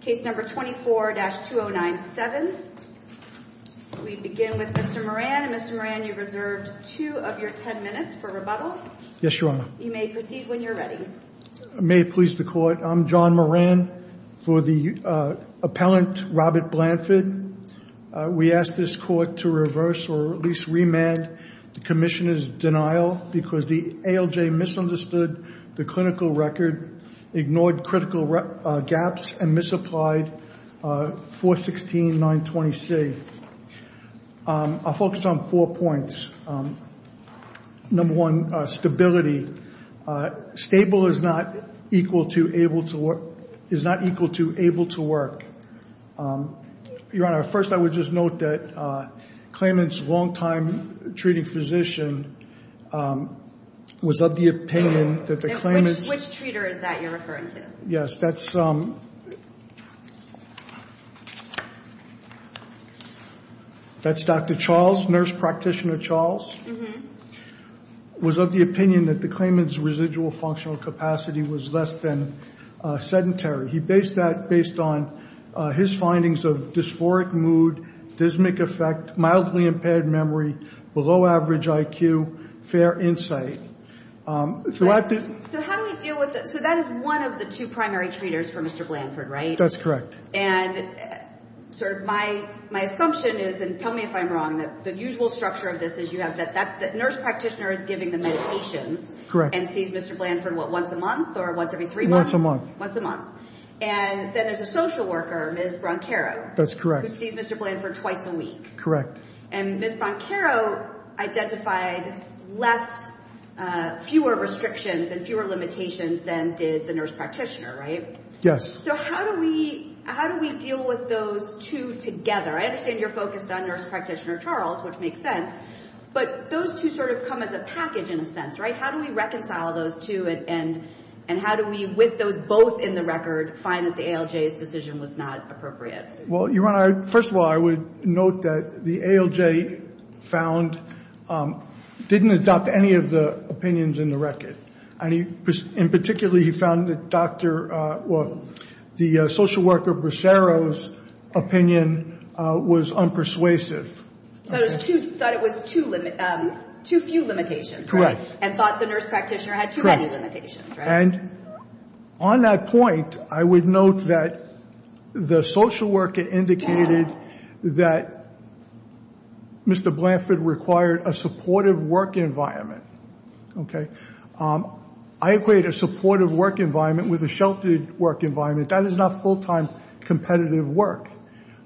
Case No. 24-2097. We begin with Mr. Moran. Mr. Moran, you reserved two of your ten minutes for rebuttal. Yes, Your Honor. You may proceed when you're ready. May it please the Court, I'm John Moran for the appellant Robert Blanford. We ask this Court to reverse or at least remand the Commissioner's denial because the ALJ misunderstood the clinical record, ignored critical gaps, and misapplied 416-926. I'll focus on four points. Number one, stability. Stable is not equal to able to work. Your Honor, first I would just note that claimant's long-time treating physician was of the opinion that the claimant's. Which treater is that you're referring to? Yes, that's Dr. Charles, Nurse Practitioner Charles, was of the opinion that the claimant's residual functional capacity was less than sedentary. He based that based on his findings of dysphoric mood, dysmic effect, mildly impaired memory, below average IQ, fair insight. So how do we deal with that? So that is one of the two primary treaters for Mr. Blanford, right? That's correct. And sort of my assumption is, and tell me if I'm wrong, that the usual structure of this is you have that nurse practitioner is giving the medications and sees Mr. Blanford, what, once a month or once every three months? Once a month. Once a month. And then there's a social worker, Ms. Broncaro. That's correct. Who sees Mr. Blanford twice a week. Correct. And Ms. Broncaro identified fewer restrictions and fewer limitations than did the nurse practitioner, right? Yes. So how do we deal with those two together? I understand you're focused on Nurse Practitioner Charles, which makes sense, but those two sort of come as a package in a sense, right? How do we reconcile those two and how do we, with those both in the record, find that the ALJ's decision was not appropriate? Well, Your Honor, first of all, I would note that the ALJ found, didn't adopt any of the opinions in the record. And particularly, he found that Dr., well, the social worker Broncaro's opinion was unpersuasive. So it was too, thought it was too few limitations, right? Correct. And thought the nurse practitioner had too many limitations, right? And on that point, I would note that the social worker indicated that Mr. Blanford required a supportive work environment. Okay. I equate a supportive work environment with a sheltered work environment. That is not full-time competitive work.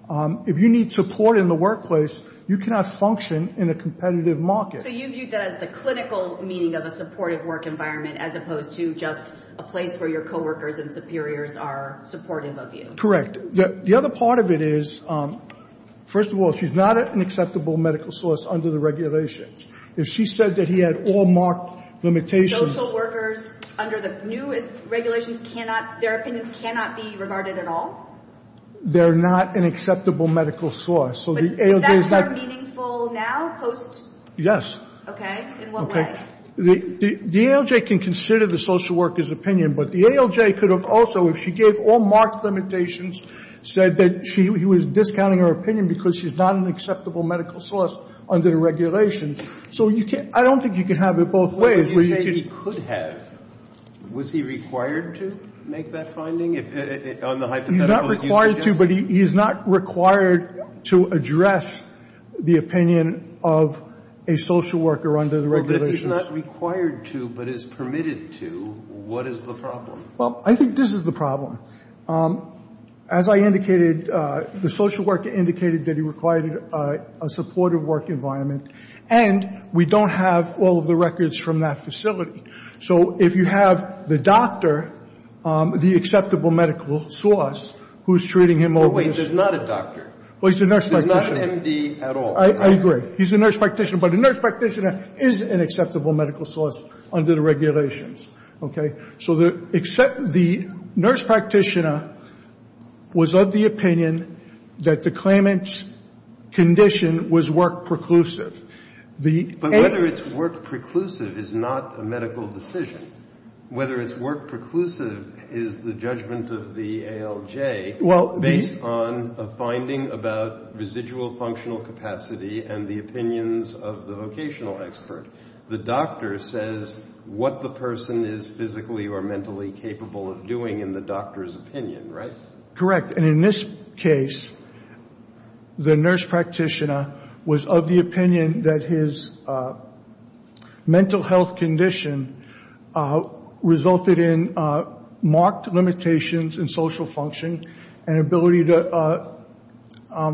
If you need support in the workplace, you cannot function in a competitive market. So you view that as the clinical meaning of a supportive work environment as opposed to just a place where your co-workers and superiors are supportive of you. Correct. The other part of it is, first of all, she's not an acceptable medical source under the regulations. If she said that he had all marked limitations. Social workers under the new regulations cannot, their opinions cannot be regarded at all? They're not an acceptable medical source. So the ALJ is not. But is that more meaningful now, post? Yes. Okay. In what way? Okay. The ALJ can consider the social worker's opinion, but the ALJ could have also, if she gave all marked limitations, said that she was discounting her opinion because she's not an acceptable medical source under the regulations. So you can't, I don't think you can have it both ways. What would you say he could have? Was he required to make that finding? If, on the hypothetical that you suggest? He's not required to, but he is not required to address the opinion of a social worker under the regulations. But if he's not required to, but is permitted to, what is the problem? Well, I think this is the problem. As I indicated, the social worker indicated that he required a supportive work environment, and we don't have all of the records from that facility. So if you have the doctor, the acceptable medical source, who's treating him over the years. But wait, he's not a doctor. Well, he's a nurse practitioner. He's not an MD at all. I agree. He's a nurse practitioner. But a nurse practitioner is an acceptable medical source under the regulations. Okay? So the nurse practitioner was of the opinion that the claimant's condition was work preclusive. The ALJ. Whether it's work preclusive is not a medical decision. Whether it's work preclusive is the judgment of the ALJ based on a finding about residual functional capacity and the opinions of the vocational expert. The doctor says what the person is physically or mentally capable of doing in the doctor's opinion, right? Correct. And in this case, the nurse practitioner was of the opinion that his mental health condition resulted in marked limitations in social function and ability to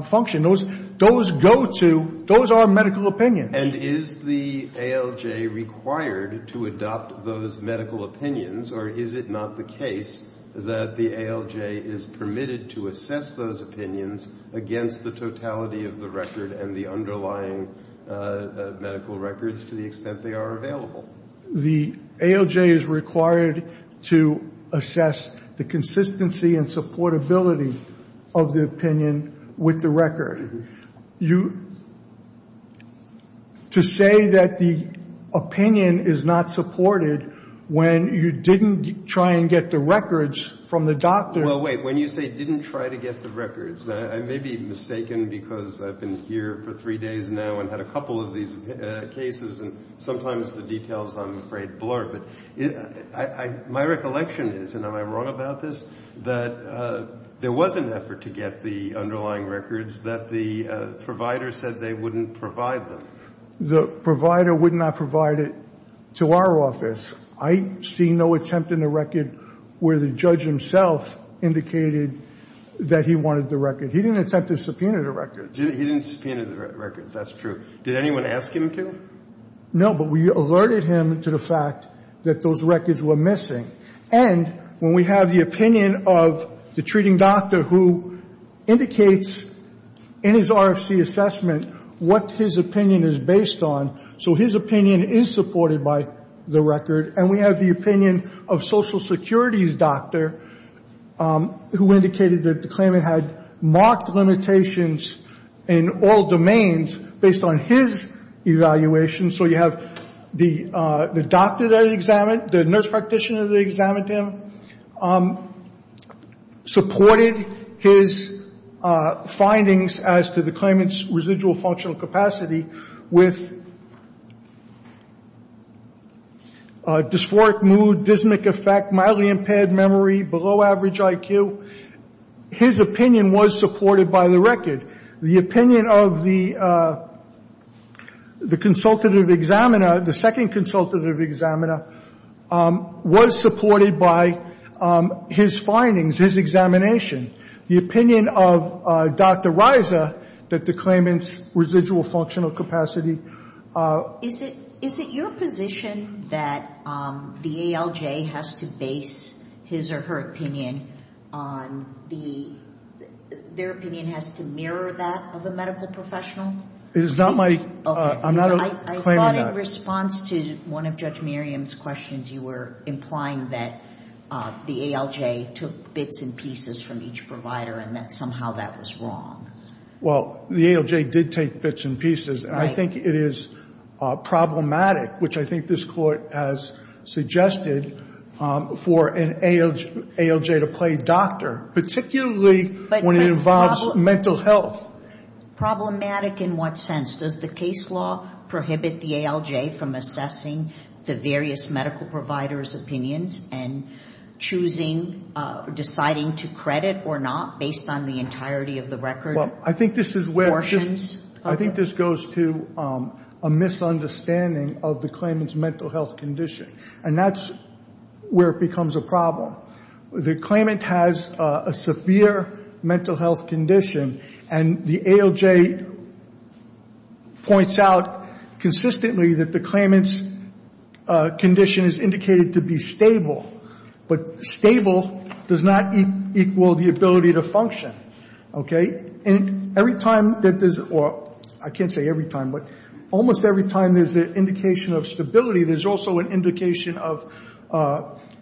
function. Those go to, those are medical opinions. And is the ALJ required to adopt those medical opinions, or is it not the case that the ALJ is permitted to assess those opinions against the totality of the record and the underlying medical records to the extent they are available? The ALJ is required to assess the consistency and supportability of the opinion with the record. You, to say that the opinion is not supported when you didn't try and get the records from the doctor. Well, wait. When you say didn't try to get the records, I may be mistaken because I've been here for three days now and had a couple of these cases, and sometimes the details, I'm afraid, blur. But my recollection is, and am I wrong about this, that there was an effort to get the underlying records that the provider said they wouldn't provide them? The provider would not provide it to our office. I see no attempt in the record where the judge himself indicated that he wanted the record. He didn't attempt to subpoena the records. He didn't subpoena the records, that's true. Did anyone ask him to? No, but we alerted him to the fact that those records were missing. And when we have the opinion of the treating doctor who indicates in his RFC assessment what his opinion is based on, so his opinion is supported by the record, and we have the opinion of Social Security's doctor who indicated that the claimant had marked limitations in all domains based on his evaluation. So you have the doctor that he examined, the nurse practitioner that examined him, supported his findings as to the claimant's residual functional capacity with dysphoric mood, dysmic effect, mildly impaired memory, below average IQ. His opinion was supported by the record. The opinion of the consultative examiner, the second consultative examiner, was supported by his findings, his examination. The opinion of Dr. Riza that the claimant's residual functional capacity... Is it your position that the ALJ has to base his or her opinion on the... their opinion has to mirror that of a medical professional? It is not my... I'm not claiming that. I thought in response to one of Judge Miriam's questions, you were implying that the ALJ took bits and pieces from each provider and that somehow that was wrong. Well, the ALJ did take bits and pieces, and I think it is problematic, which I think this Court has suggested for an ALJ to play doctor, particularly when it involves mental health. Problematic in what sense? Does the case law prohibit the ALJ from assessing the various medical providers' opinions and choosing, deciding to credit or not based on the entirety of the record? Well, I think this is where... Portions? I think this goes to a misunderstanding of the claimant's mental health condition, and that's where it becomes a problem. The claimant has a severe mental health condition, and the ALJ points out consistently that the claimant's condition is indicated to be stable, but stable does not equal the ability to function. Okay? And every time that there's... I can't say every time, but almost every time there's an indication of stability, there's also an indication of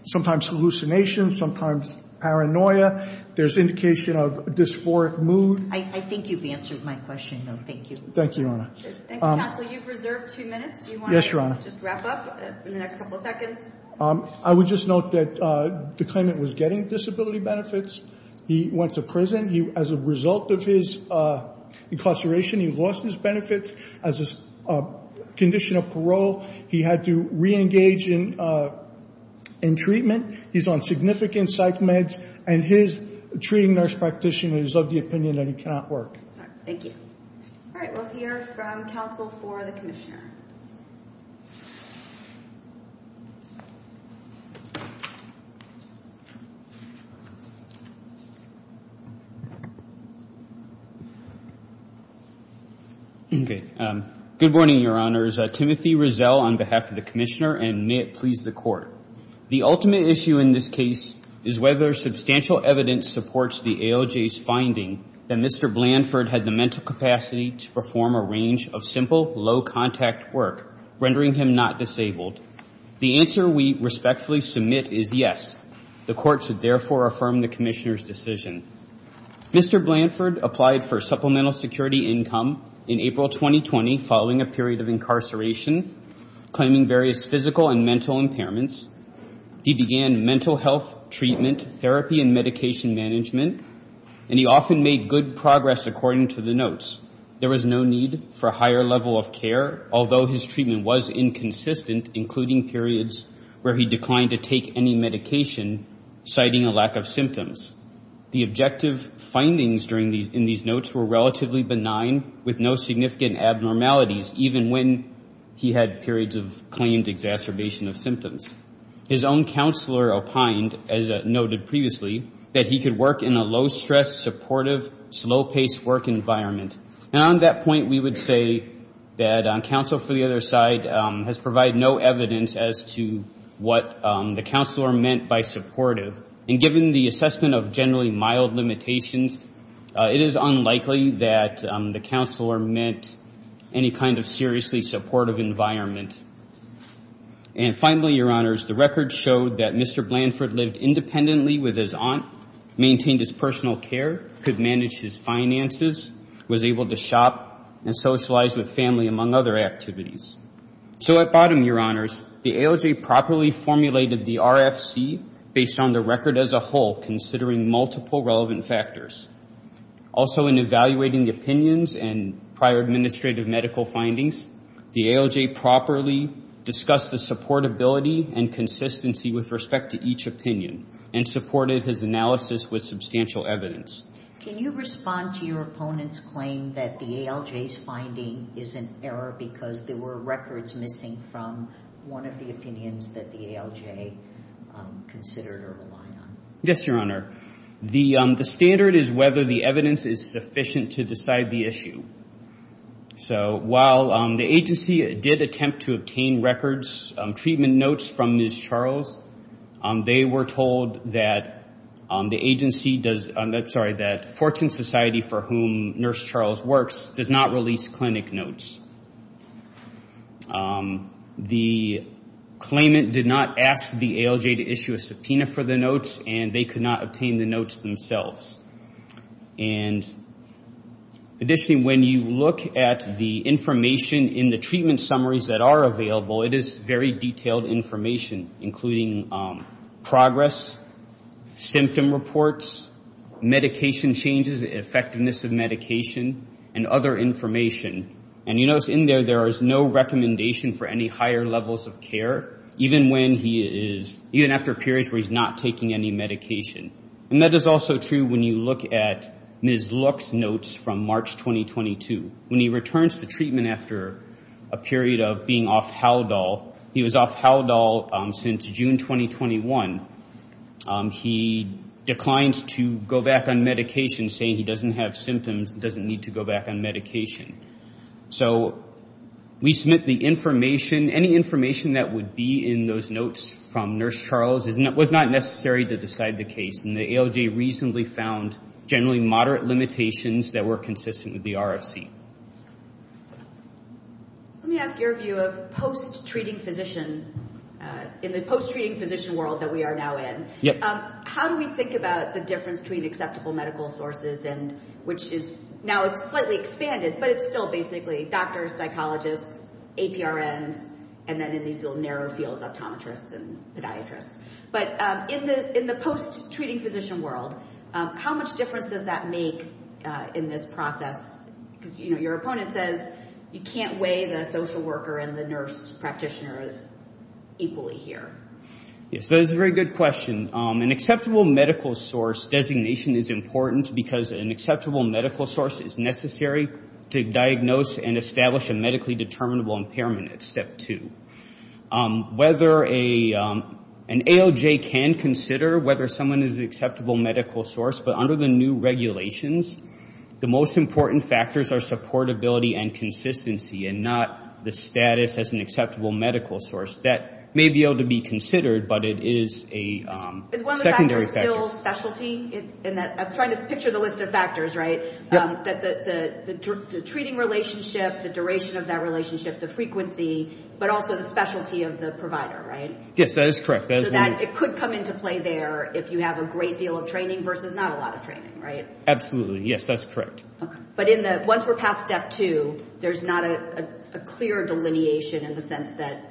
sometimes hallucinations, sometimes paranoia. There's indication of dysphoric mood. I think you've answered my question, though. Thank you. Thank you, Your Honor. Thank you, counsel. You've reserved two minutes. Do you want to just wrap up in the next couple of seconds? I would just note that the claimant was getting disability benefits. He went to prison. As a result of his incarceration, he lost his benefits. As a condition of parole, he had to re-engage in treatment. He's on significant psych meds, and his treating nurse practitioner is of the opinion that he cannot work. All right. Thank you. All right. We'll hear from counsel for the commissioner. Okay. Good morning, Your Honors. Timothy Rizell on behalf of the commissioner, and may it please the Court. The ultimate issue in this case is whether substantial evidence supports the AOJ's finding that Mr. Blanford had the mental capacity to perform a range of simple, low-contact work, rendering him not disabled. The answer we respectfully submit is yes. The Court should therefore affirm the commissioner's decision. Mr. Blanford applied for supplemental security income in April 2020 following a period of incarceration, claiming various physical and mental impairments. He began mental health treatment, therapy, and medication management, and he often made good progress according to the notes. There was no need for a higher level of care, although his treatment was inconsistent, including periods where he declined to take any medication, citing a lack of symptoms. The objective findings in these notes were relatively benign, with no significant abnormalities, even when he had periods of claimed exacerbation of symptoms. His own counselor opined, as noted previously, that he could work in a low-stress, supportive, slow-paced work environment. And on that point, we would say that counsel for the other side has provided no evidence as to what the counselor meant by supportive. And given the assessment of generally mild limitations, it is unlikely that the counselor meant any kind of seriously supportive environment. And finally, Your Honors, the record showed that Mr. Blanford lived independently with his aunt, maintained his personal care, could manage his finances, was able to shop and socialize with family, among other activities. So at bottom, Your Honors, the ALJ properly formulated the RFC based on the record as a whole, considering multiple relevant factors. Also, in evaluating opinions and prior administrative medical findings, the ALJ properly discussed the supportability and consistency with respect to each opinion, and supported his analysis with substantial evidence. Can you respond to your opponent's claim that the ALJ's finding is an error because there were records missing from one of the opinions that the ALJ considered or relied on? Yes, Your Honor. The standard is whether the evidence is sufficient to decide the issue. So while the agency did attempt to obtain records, treatment notes from Ms. Charles, they were told that the agency does, I'm sorry, that Fortune Society, for whom Nurse Charles works, does not release clinic notes. The claimant did not ask the ALJ to issue a subpoena for the notes, and they could not obtain the notes themselves. And additionally, when you look at the information in the treatment summaries that are available, it is very detailed information, including progress, symptom reports, medication changes, effectiveness of medication, and other information. And you notice in there, there is no recommendation for any higher levels of care, even when he is, even after periods where he's not taking any medication. And that is also true when you look at Ms. Look's notes from March 2022. When he returns to treatment after a period of being off Haldol, he was off Haldol since June 2021. He declined to go back on medication, saying he doesn't have symptoms and doesn't need to go back on medication. So we submit the information. Any information that would be in those notes from Nurse Charles was not necessary to decide the case, and the ALJ reasonably found generally moderate limitations that were consistent with the RFC. Let me ask your view of post-treating physician. In the post-treating physician world that we are now in, how do we think about the difference between acceptable medical sources, and which is now slightly expanded, but it's still basically doctors, psychologists, APRNs, and then in these little narrow fields, optometrists and podiatrists. But in the post-treating physician world, how much difference does that make in this process? Because, you know, your opponent says you can't weigh the social worker and the nurse practitioner equally here. Yes, that is a very good question. An acceptable medical source designation is important because an acceptable medical source is necessary to diagnose and establish a medically determinable impairment at step two. Whether an ALJ can consider whether someone is an acceptable medical source, but under the new regulations, the most important factors are supportability and consistency, and not the status as an acceptable medical source. That may be able to be considered, but it is a secondary factor. Is one of the factors still specialty? I'm trying to picture the list of factors, right? Yep. The treating relationship, the duration of that relationship, the frequency, but also the specialty of the provider, right? Yes, that is correct. So it could come into play there if you have a great deal of training versus not a lot of training, right? Absolutely. Yes, that's correct. But once we're past step two, there's not a clear delineation in the sense that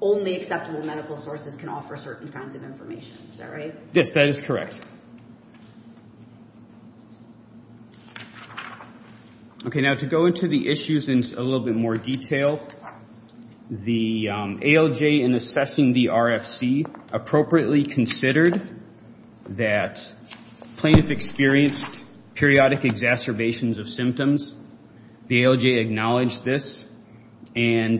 only acceptable medical sources can offer certain kinds of information. Is that right? Yes, that is correct. Okay. Now, to go into the issues in a little bit more detail, the ALJ in assessing the RFC appropriately considered that plaintiffs experienced periodic exacerbations of symptoms. The ALJ acknowledged this and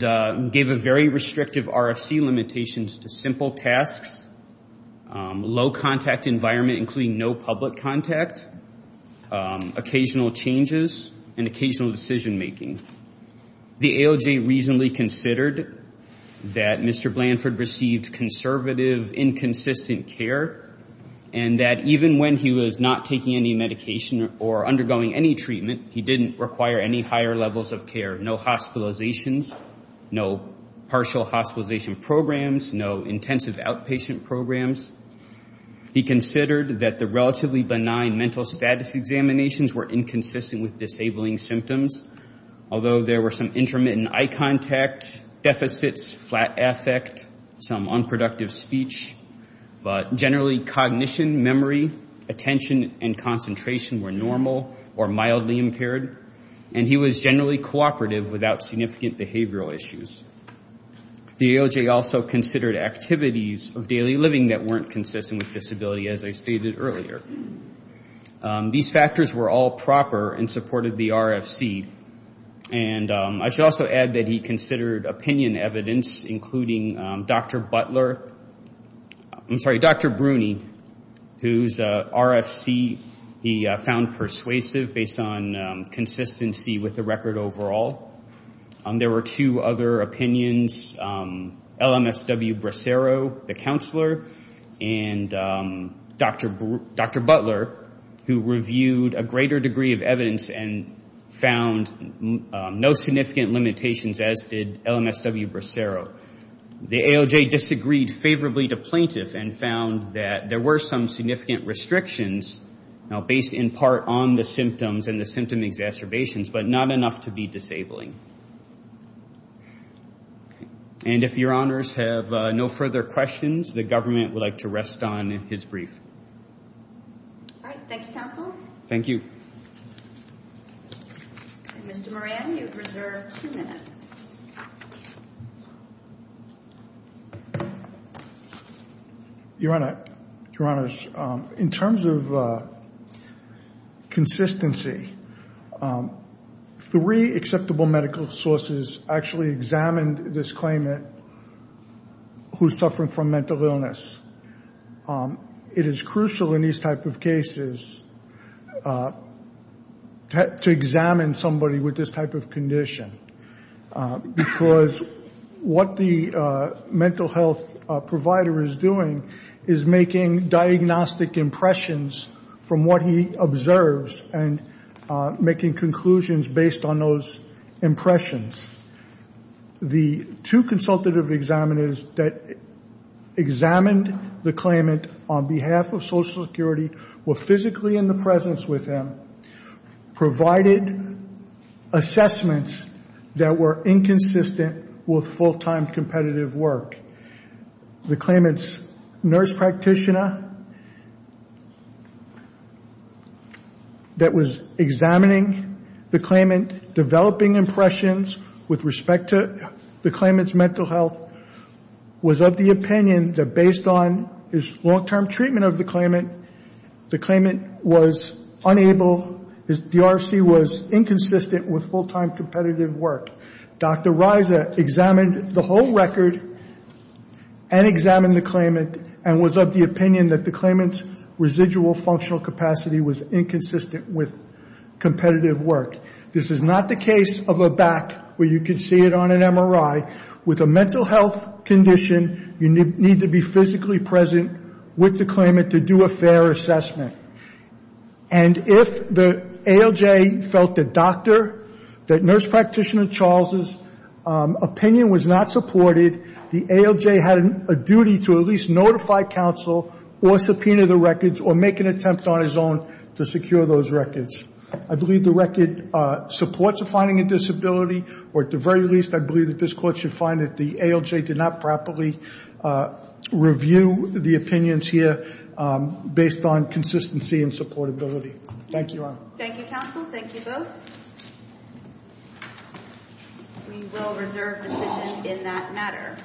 gave a very restrictive RFC limitations to simple tasks, low contact environment including no public contact, occasional changes, and occasional decision making. The ALJ reasonably considered that Mr. Blanford received conservative, inconsistent care, and that even when he was not taking any medication or undergoing any treatment, he didn't require any higher levels of care, no hospitalizations, no partial hospitalization programs, no intensive outpatient programs. He considered that the relatively benign mental status examinations were inconsistent with disabling symptoms, although there were some intermittent eye contact, deficits, flat affect, some unproductive speech, but generally cognition, memory, attention, and concentration were normal or mildly impaired. And he was generally cooperative without significant behavioral issues. The ALJ also considered activities of daily living that weren't consistent with disability, as I stated earlier. These factors were all proper and supported the RFC. And I should also add that he considered opinion evidence, including Dr. Butler, I'm sorry, Dr. Bruni, whose RFC he found persuasive based on consistency with the record overall. There were two other opinions, LMSW Bracero, the counselor, and Dr. Butler, who reviewed a greater degree of evidence and found no significant limitations, as did LMSW Bracero. The ALJ disagreed favorably to plaintiff and found that there were some significant restrictions, now based in part on the symptoms and the symptom exacerbations, but not enough to be disabling. And if your honors have no further questions, the government would like to rest on his brief. All right. Thank you, counsel. Thank you. Mr. Moran, you have reserved two minutes. Your honors, in terms of consistency, three acceptable medical sources actually examined this claimant who is suffering from mental illness. It is crucial in these type of cases to examine somebody with this type of condition, because what the mental health provider is doing is making diagnostic impressions from what he observes and making conclusions based on those impressions. The two consultative examiners that examined the claimant on behalf of Social Security were physically in the presence with him, provided assessments that were inconsistent with full-time competitive work. The claimant's nurse practitioner that was examining the claimant, developing impressions with respect to the claimant's mental health, was of the opinion that based on his long-term treatment of the claimant, the claimant was unable, the RFC was inconsistent with full-time competitive work. Dr. Reiser examined the whole record and examined the claimant and was of the opinion that the claimant's residual functional capacity was inconsistent with competitive work. This is not the case of a back where you can see it on an MRI. With a mental health condition, you need to be physically present with the claimant to do a fair assessment. And if the ALJ felt the doctor, that nurse practitioner Charles' opinion was not supported, the ALJ had a duty to at least notify counsel or subpoena the records or make an attempt on his own to secure those records. I believe the record supports a finding of disability, or at the very least I believe that this Court should find that the ALJ did not properly review the opinions here based on consistency and supportability. Thank you, Your Honor. Thank you, counsel. Thank you both. We will reserve decision in that matter.